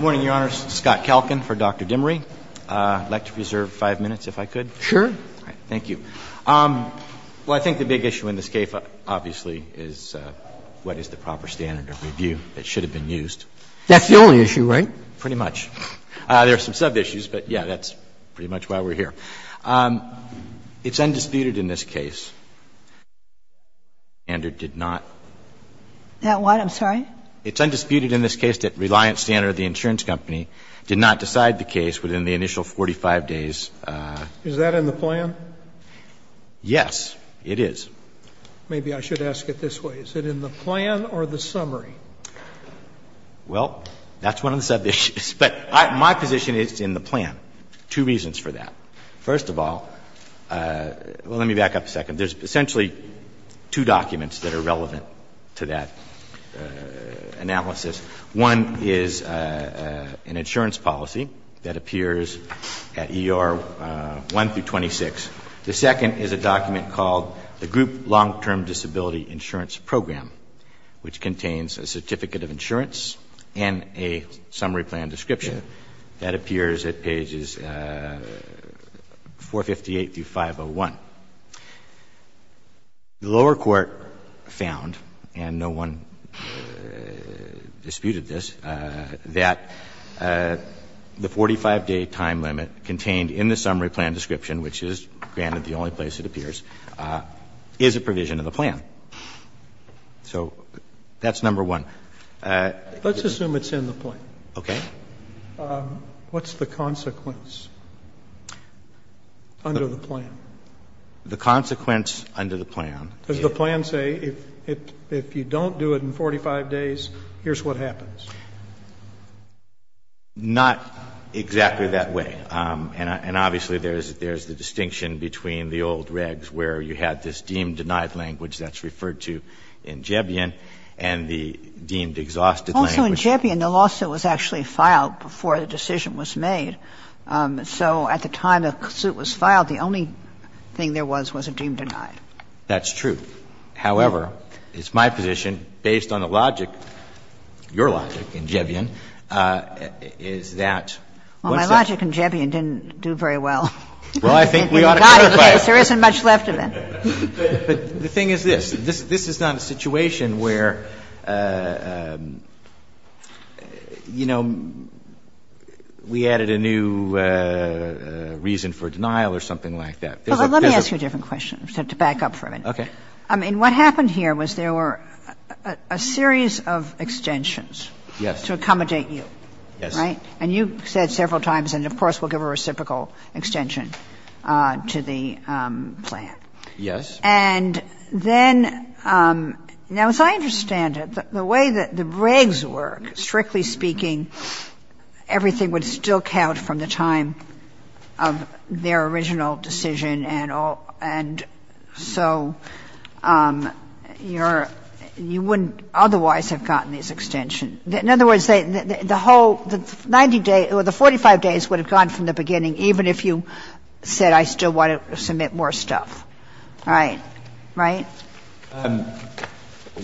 Morning, Your Honors. Scott Kalkin for Dr. Dimery. I'd like to reserve five minutes, if I could. Sure. All right. Thank you. Well, I think the big issue in this case, obviously, is what is the proper standard of review that should have been used. That's the only issue, right? Pretty much. There are some sub-issues, but, yeah, that's pretty much why we're here. It's undisputed in this case that the standard did not. That what? I'm sorry? It's undisputed in this case that Reliance Standard, the insurance company, did not decide the case within the initial 45 days. Is that in the plan? Yes, it is. Maybe I should ask it this way. Is it in the plan or the summary? Well, that's one of the sub-issues. But my position is it's in the plan. Two reasons for that. First of all, well, let me back up a second. There's essentially two documents that are relevant to that analysis. One is an insurance policy that appears at ER 1 through 26. The second is a document called the Group Long-Term Disability Insurance Program, which contains a certificate of insurance and a summary plan description that appears at pages 458 through 501. The lower court found, and no one disputed this, that the 45-day time limit contained in the summary plan description, which is, granted, the only place it appears, is a provision of the plan. So that's number one. Let's assume it's in the plan. Okay. What's the consequence under the plan? The consequence under the plan. Does the plan say if you don't do it in 45 days, here's what happens? Not exactly that way. And obviously there's the distinction between the old regs where you had this deemed denied language that's referred to in Jebian and the deemed exhausted language. So in Jebian, the lawsuit was actually filed before the decision was made. So at the time the suit was filed, the only thing there was was a deemed denied. That's true. However, it's my position, based on the logic, your logic in Jebian, is that what's that? Well, my logic in Jebian didn't do very well. Well, I think we ought to clarify it. There isn't much left of it. But the thing is this. This is not a situation where, you know, we added a new reason for denial or something like that. Let me ask you a different question to back up for a minute. Okay. I mean, what happened here was there were a series of extensions to accommodate you. Yes. Right? And you said several times, and of course we'll give a reciprocal extension to the plan. Yes. And then, now, as I understand it, the way that the regs work, strictly speaking, everything would still count from the time of their original decision, and so you wouldn't otherwise have gotten these extensions. In other words, the whole 90 days or the 45 days would have gone from the beginning even if you said I still want to submit more stuff. Right. Right?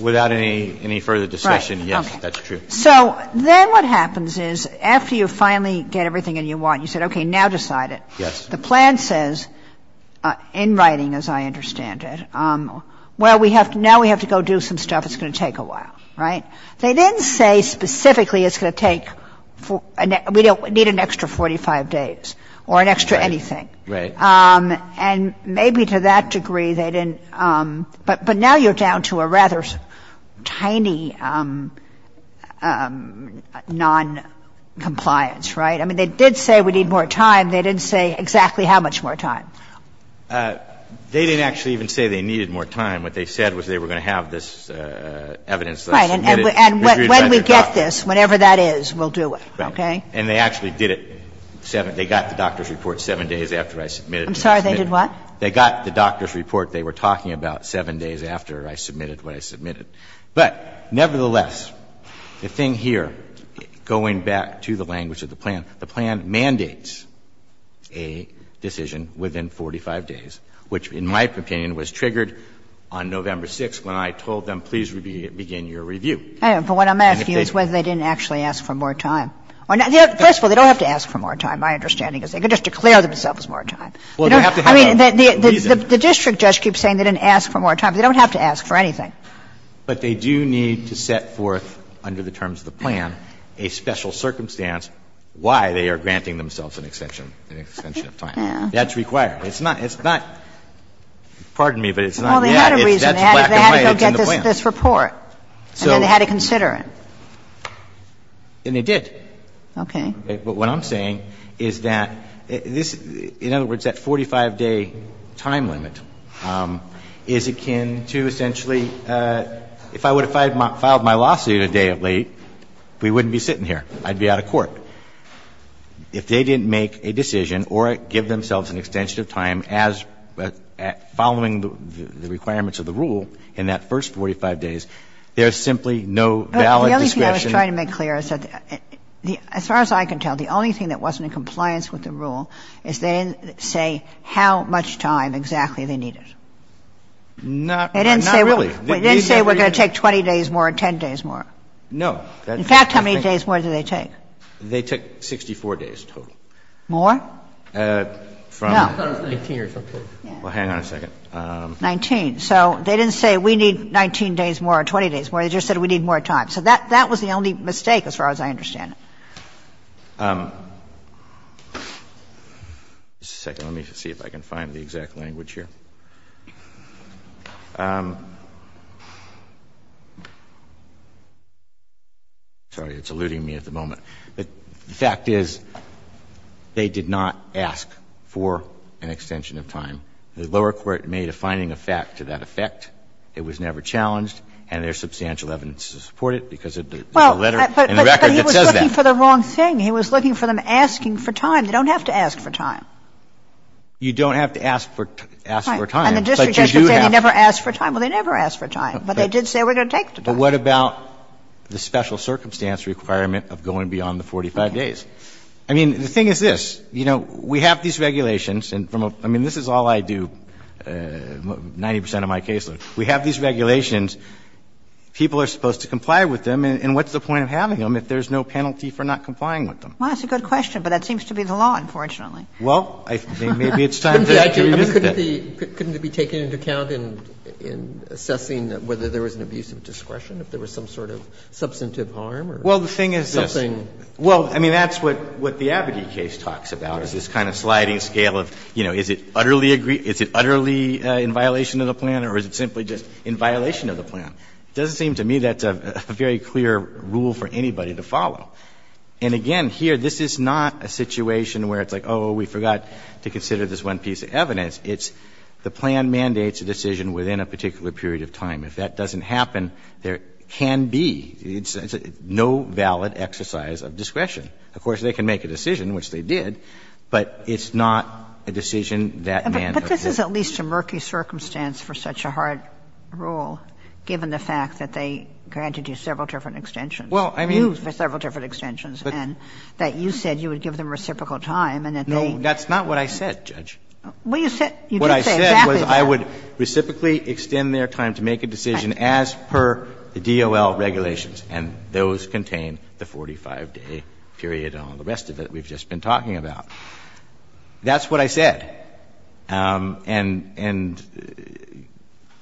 Without any further discussion, yes, that's true. So then what happens is after you finally get everything that you want, you said, okay, now decide it. Yes. The plan says, in writing as I understand it, well, now we have to go do some stuff. It's going to take a while. Right? They didn't say specifically it's going to take, we don't need an extra 45 days or an extra anything. Right. And maybe to that degree they didn't, but now you're down to a rather tiny noncompliance. Right? I mean, they did say we need more time. They didn't say exactly how much more time. They didn't actually even say they needed more time. What they said was they were going to have this evidence submitted. Right. And when we get this, whatever that is, we'll do it. Okay? And they actually did it, they got the doctor's report 7 days after I submitted it. I'm sorry, they did what? They got the doctor's report. They were talking about 7 days after I submitted what I submitted. But nevertheless, the thing here, going back to the language of the plan, the plan mandates a decision within 45 days, which in my opinion was triggered on November 6th when I told them, please begin your review. But what I'm asking is whether they didn't actually ask for more time. First of all, they don't have to ask for more time. My understanding is they could just declare themselves as more time. I mean, the district judge keeps saying they didn't ask for more time. They don't have to ask for anything. But they do need to set forth under the terms of the plan a special circumstance why they are granting themselves an extension of time. That's required. It's not – it's not – pardon me, but it's not. Well, they had a reason. They had to go get this report. And then they had to consider it. And they did. Okay. But what I'm saying is that this – in other words, that 45-day time limit is akin to essentially – if I would have filed my lawsuit a day of late, we wouldn't be sitting here. I'd be out of court. If they didn't make a decision or give themselves an extension of time as – following the requirements of the rule in that first 45 days, there's simply no valid discretion. I was trying to make clear. As far as I can tell, the only thing that wasn't in compliance with the rule is they didn't say how much time exactly they needed. Not really. They didn't say we're going to take 20 days more or 10 days more. No. In fact, how many days more did they take? They took 64 days total. More? No. Well, hang on a second. Nineteen. So they didn't say we need 19 days more or 20 days more. They just said we need more time. So that was the only mistake as far as I understand it. Let me see if I can find the exact language here. Sorry. It's eluding me at the moment. The fact is they did not ask for an extension of time. The lower court made a finding of fact to that effect. It was never challenged, and there's substantial evidence to support it. Because there's a letter in the record that says that. But he was looking for the wrong thing. He was looking for them asking for time. They don't have to ask for time. You don't have to ask for time. And the district judge could say they never asked for time. Well, they never asked for time, but they did say we're going to take the time. But what about the special circumstance requirement of going beyond the 45 days? I mean, the thing is this. You know, we have these regulations, and from a – I mean, this is all I do, 90 percent of my case load. We have these regulations. People are supposed to comply with them, and what's the point of having them if there's no penalty for not complying with them? Well, that's a good question, but that seems to be the law, unfortunately. Well, maybe it's time to revisit that. Couldn't it be taken into account in assessing whether there was an abuse of discretion, if there was some sort of substantive harm or something? Well, the thing is this. Well, I mean, that's what the Abadie case talks about, is this kind of sliding in violation of the plan. It doesn't seem to me that's a very clear rule for anybody to follow. And again, here, this is not a situation where it's like, oh, we forgot to consider this one piece of evidence. It's the plan mandates a decision within a particular period of time. If that doesn't happen, there can be no valid exercise of discretion. Of course, they can make a decision, which they did, but it's not a decision that mandates a decision. But this is at least a murky circumstance for such a hard rule, given the fact that they granted you several different extensions. Well, I mean. For several different extensions, and that you said you would give them reciprocal time, and that they. No, that's not what I said, Judge. Well, you said, you did say exactly that. What I said was I would reciprocally extend their time to make a decision as per the DOL regulations, and those contain the 45-day period and all the rest of it we've just been talking about. That's what I said. And,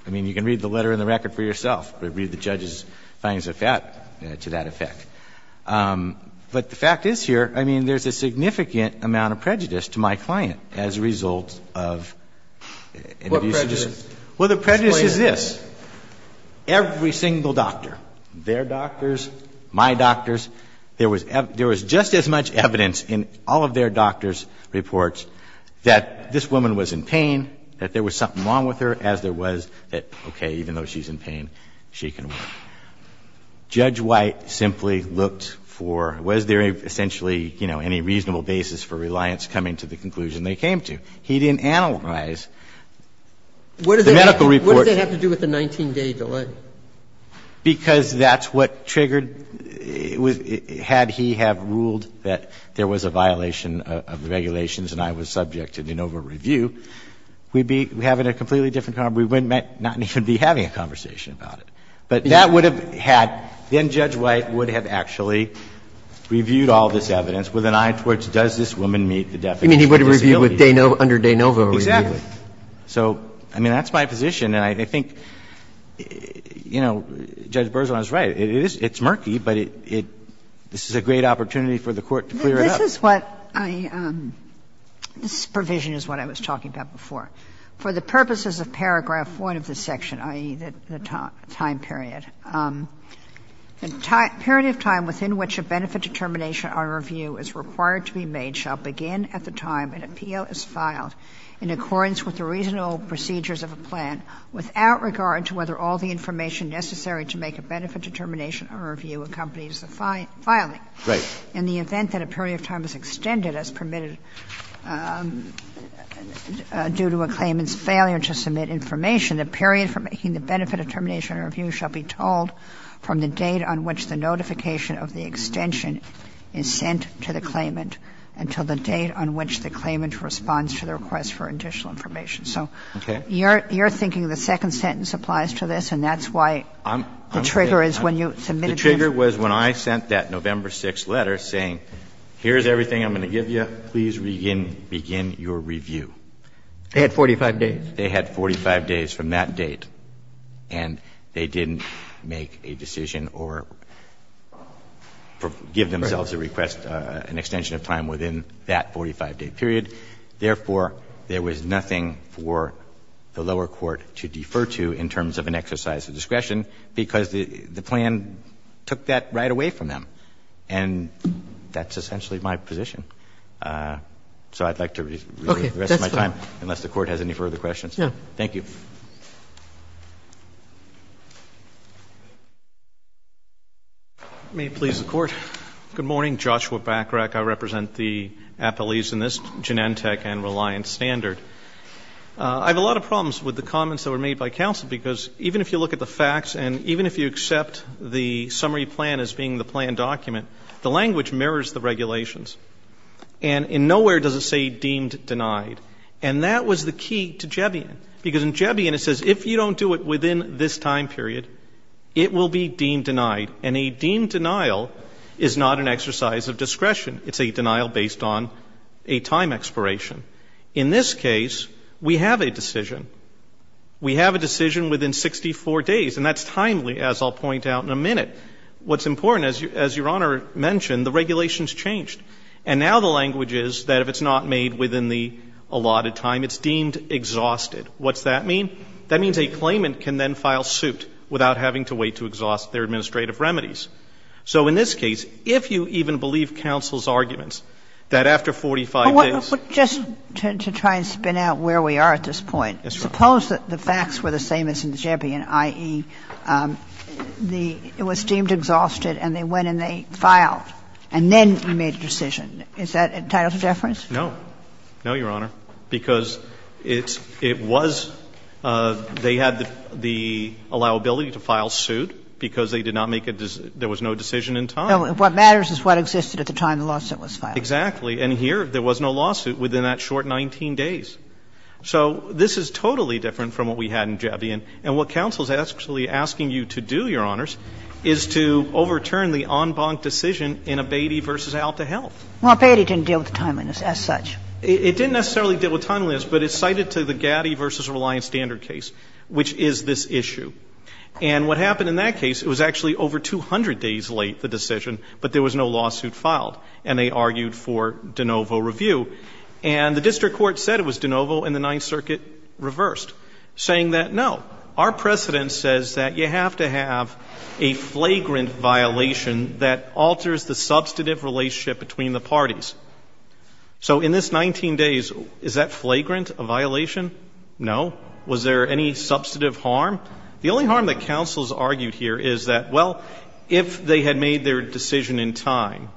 I mean, you can read the letter in the record for yourself, but read the judge's findings to that effect. But the fact is here, I mean, there's a significant amount of prejudice to my client as a result of. What prejudice? Well, the prejudice is this. Every single doctor, their doctors, my doctors, there was just as much evidence in all of their doctors' reports that this woman was in pain, that there was something wrong with her, as there was that, okay, even though she's in pain, she can work. Judge White simply looked for was there essentially, you know, any reasonable basis for reliance coming to the conclusion they came to. He didn't analyze the medical report. What does that have to do with the 19-day delay? Because that's what triggered, had he have ruled that there was a violation of the regulations and I was subject to de novo review, we'd be having a completely different conversation. We might not even be having a conversation about it. But that would have had, then Judge White would have actually reviewed all this evidence with an eye towards does this woman meet the definition of disability. You mean he would have reviewed under de novo review? Exactly. So, I mean, that's my position, and I think, you know, Judge Bergeron is right. It is, it's murky, but it, this is a great opportunity for the Court to clear it up. This is what I, this provision is what I was talking about before. For the purposes of paragraph 1 of this section, i.e., the time period. Period of time within which a benefit determination or review is required to be made shall begin at the time an appeal is filed in accordance with the reasonable procedures of a plan without regard to whether all the information necessary to make a benefit determination or review accompanies the filing. Right. In the event that a period of time is extended as permitted due to a claimant's failure to submit information, the period for making the benefit determination or review shall be told from the date on which the notification of the extension is sent to the claimant until the date on which the claimant responds to the request for additional information. So you're thinking the second sentence applies to this, and that's why the trigger is when you submitted the information. The trigger was when I sent that November 6th letter saying, here's everything I'm going to give you. Please begin your review. They had 45 days. They had 45 days from that date. And they didn't make a decision or give themselves a request, an extension of time within that 45-day period. Therefore, there was nothing for the lower court to defer to in terms of an exercise of discretion, because the plan took that right away from them. And that's essentially my position. So I'd like to review the rest of my time, unless the Court has any further questions. Thank you. May it please the Court. Good morning. Joshua Bacharach. I represent the appellees in this, Genentech and Reliance Standard. I have a lot of problems with the comments that were made by counsel, because even if you look at the facts and even if you accept the summary plan as being the plan document, the language mirrors the regulations. And in nowhere does it say deemed denied. And that was the key to Jebbian, because in Jebbian it says if you don't do it within this time period, it will be deemed denied. And a deemed denial is not an exercise of discretion. It's a denial based on a time expiration. In this case, we have a decision. We have a decision within 64 days. And that's timely, as I'll point out in a minute. What's important, as Your Honor mentioned, the regulations changed. And now the language is that if it's not made within the allotted time, it's deemed exhausted. What's that mean? That means a claimant can then file suit without having to wait to exhaust their administrative remedies. So in this case, if you even believe counsel's arguments, that after 45 days to try and spin out where we are at this point. Suppose that the facts were the same as in Jebbian, i.e., it was deemed exhausted and they went and they filed. And then you made a decision. Is that entitled to deference? No. No, Your Honor. Because it's — it was — they had the allowability to file suit because they did not make a — there was no decision in time. What matters is what existed at the time the lawsuit was filed. Exactly. And here, there was no lawsuit within that short 19 days. So this is totally different from what we had in Jebbian. And what counsel is actually asking you to do, Your Honors, is to overturn the en banc decision in Abatey v. Alta Health. Well, Abatey didn't deal with timeliness as such. It didn't necessarily deal with timeliness, but it's cited to the Gatti v. Reliance Standard case, which is this issue. And what happened in that case, it was actually over 200 days late, the decision, but there was no lawsuit filed. And they argued for de novo review. And the district court said it was de novo, and the Ninth Circuit reversed, saying that, no, our precedent says that you have to have a flagrant violation that alters the substantive relationship between the parties. So in this 19 days, is that flagrant, a violation? No. Was there any substantive harm? The only harm that counsel has argued here is that, well, if they had made their decision in time,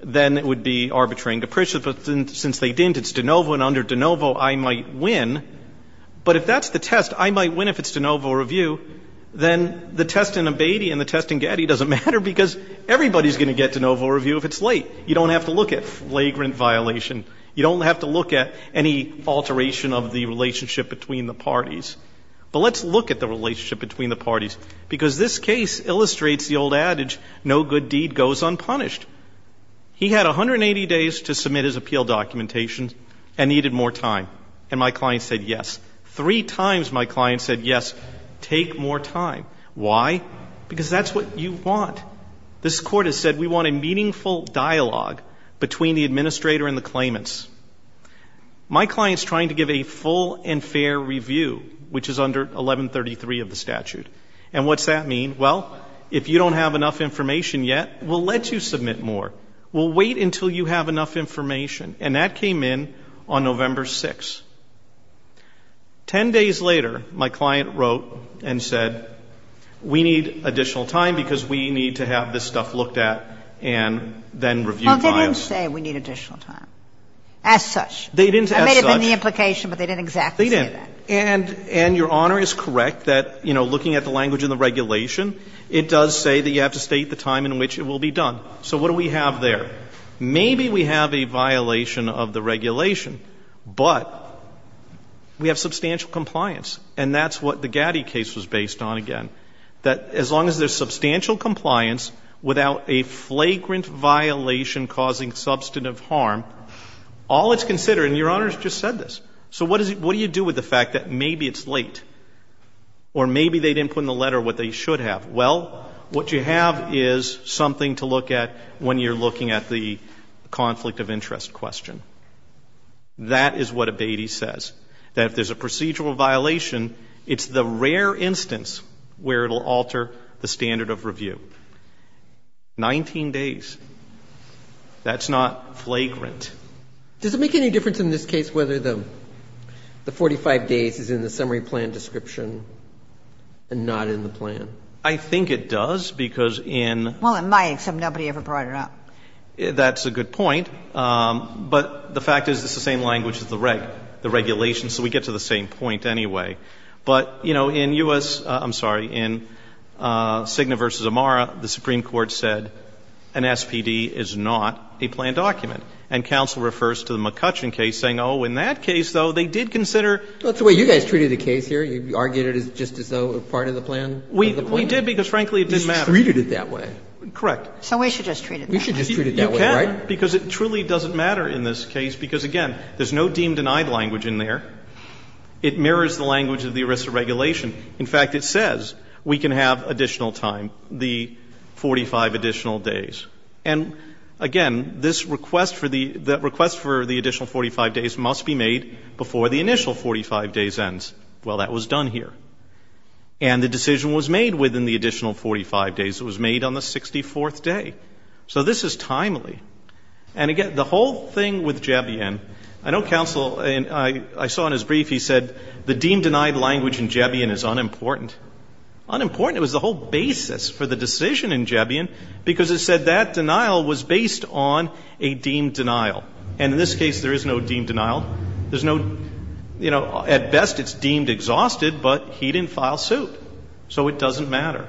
then it would be arbitrary and depreciate. Since they didn't, it's de novo, and under de novo, I might win. But if that's the test, I might win if it's de novo review, then the test in Abatey and the test in Gatti doesn't matter, because everybody's going to get de novo review if it's late. You don't have to look at flagrant violation. You don't have to look at any alteration of the relationship between the parties. But let's look at the relationship between the parties, because this case illustrates the old adage, no good deed goes unpunished. He had 180 days to submit his appeal documentation and needed more time, and my client said yes. Three times my client said yes, take more time. Why? Because that's what you want. This court has said we want a meaningful dialogue between the administrator and the claimants. My client's trying to give a full and fair review, which is under 1133 of the statute. And what's that mean? Well, if you don't have enough information yet, we'll let you submit more. We'll wait until you have enough information. And that came in on November 6th. Ten days later, my client wrote and said, we need additional time because we need to have this stuff looked at and then reviewed by us. Well, they didn't say we need additional time as such. They didn't as such. That may have been the implication, but they didn't exactly say that. They didn't. And your Honor is correct that, you know, looking at the language in the regulation, it does say that you have to state the time in which it will be done. So what do we have there? Maybe we have a violation of the regulation, but we have substantial compliance, and that's what the Gatti case was based on again, that as long as there's substantial compliance without a flagrant violation causing substantive harm, all it's considered and your Honor has just said this. So what do you do with the fact that maybe it's late or maybe they didn't put in the letter what they should have? Well, what you have is something to look at when you're looking at the conflict of interest question. That is what abatis says, that if there's a procedural violation, it's the rare instance where it'll alter the standard of review. Nineteen days. That's not flagrant. Does it make any difference in this case whether the 45 days is in the summary plan description and not in the plan? I think it does because in... Well, it might, except nobody ever brought it up. That's a good point, but the fact is it's the same language as the regulation, so we get to the same point anyway. But, you know, in U.S., I'm sorry, in Cigna v. Amara, the Supreme Court said an SPD is not a planned document. And counsel refers to the McCutcheon case saying, oh, in that case, though, they did consider... That's the way you guys treated the case here. You argued it just as though it was part of the plan. We did because, frankly, it didn't matter. You just treated it that way. Correct. So we should just treat it that way. We should just treat it that way, right? You can, because it truly doesn't matter in this case, because, again, there's no deemed denied language in there. It mirrors the language of the ERISA regulation. In fact, it says we can have additional time, the 45 additional days. And, again, this request for the additional 45 days must be made before the initial 45 days ends. Well, that was done here. And the decision was made within the additional 45 days. It was made on the 64th day. So this is timely. And, again, the whole thing with Jebian, I know counsel, I saw in his brief, he said the deemed denied language in Jebian is unimportant. Unimportant. It was the whole basis for the decision in Jebian, because it said that denial was based on a deemed denial. And in this case, there is no deemed denial. There's no, you know, at best, it's deemed exhausted, but he didn't file suit. So it doesn't matter.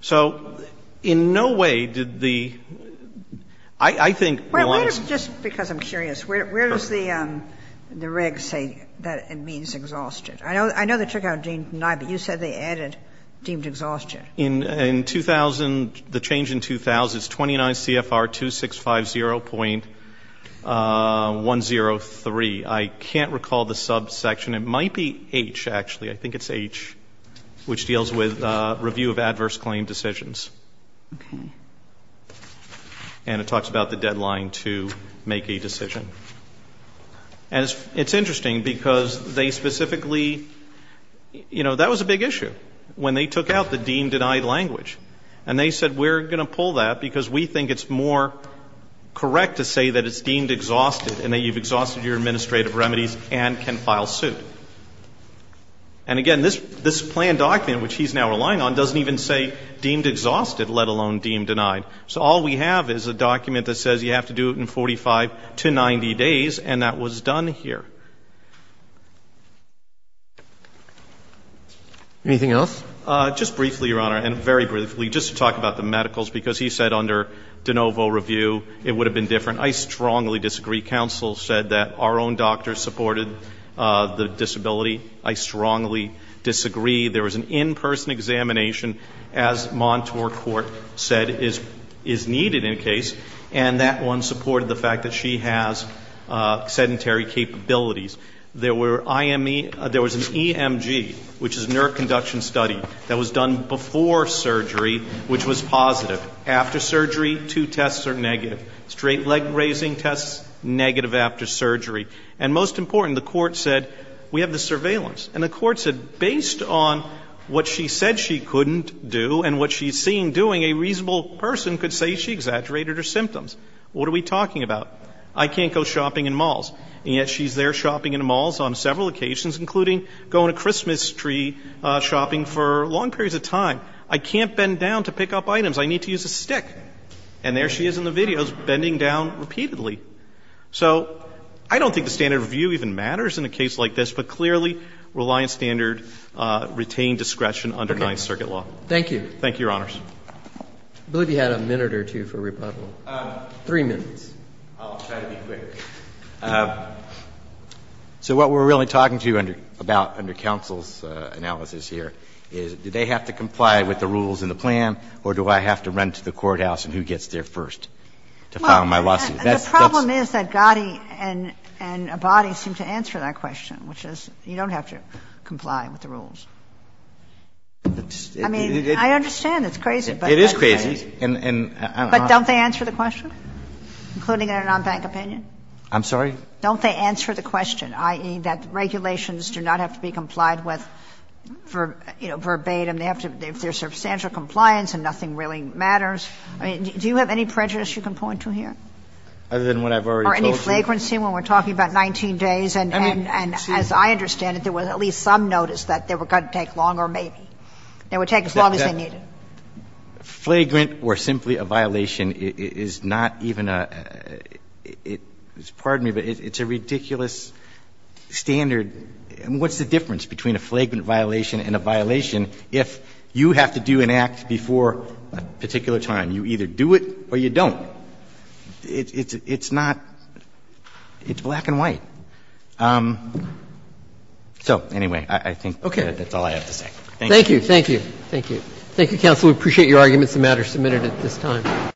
So in no way did the, I think, one of the. Just because I'm curious, where does the reg say that it means exhausted? I know they took out deemed denied, but you said they added deemed exhausted. In 2000, the change in 2000 is 29 CFR 2650.103. I can't recall the subsection. It might be H, actually. I think it's H, which deals with review of adverse claim decisions. Okay. And it talks about the deadline to make a decision. And it's interesting, because they specifically, you know, that was a big issue, when they took out the deemed denied language. And they said, we're going to pull that, because we think it's more correct to say that it's deemed exhausted, and that you've exhausted your administrative remedies and can file suit. And again, this planned document, which he's now relying on, doesn't even say deemed exhausted, let alone deemed denied. So all we have is a document that says you have to do it in 45 to 90 days. And that was done here. Anything else? Just briefly, Your Honor, and very briefly, just to talk about the medicals, because he said under de novo review, it would have been different. I strongly disagree. Counsel said that our own doctors supported the disability. I strongly disagree. There was an in-person examination, as Montour Court said is needed in a case. And that one supported the fact that she has sedentary capabilities. There were IME, there was an EMG, which is nerve conduction study, that was done before surgery, which was positive. After surgery, two tests are negative. Straight leg raising tests, negative after surgery. And most important, the Court said, we have the surveillance. And the Court said, based on what she said she couldn't do and what she's seen doing, a reasonable person could say she exaggerated her symptoms. What are we talking about? I can't go shopping in malls. And yet she's there shopping in malls on several occasions, including going to Christmas tree shopping for long periods of time. I can't bend down to pick up items. I need to use a stick. And there she is in the videos, bending down repeatedly. So I don't think the standard of view even matters in a case like this, but clearly Reliance Standard retained discretion under Ninth Circuit law. Thank you. Thank you, Your Honors. I believe you had a minute or two for rebuttal. Three minutes. I'll try to be quick. So what we're really talking to you about under counsel's analysis here is, do they have to comply with the rules in the plan, or do I have to run to the courthouse and who gets there first to file my lawsuit? That's the problem is that Gatti and Abadi seem to answer that question, which is you don't have to comply with the rules. I mean, I understand it's crazy, but it is crazy. But don't they answer the question, including in a non-bank opinion? I'm sorry? Don't they answer the question, i.e., that regulations do not have to be complied with verbatim. They have to be, if there's substantial compliance and nothing really matters. I mean, do you have any prejudice you can point to here? Other than what I've already told you. Or any flagrancy when we're talking about 19 days. And as I understand it, there was at least some notice that there were going to be some violations that would take longer, maybe, that would take as long as they needed. Flagrant or simply a violation is not even a – it's a ridiculous standard. What's the difference between a flagrant violation and a violation if you have to do an act before a particular time? You either do it or you don't. It's not – it's black and white. That's all I have to say. Thank you. Thank you. Thank you. Thank you, counsel. We appreciate your arguments. The matter is submitted at this time.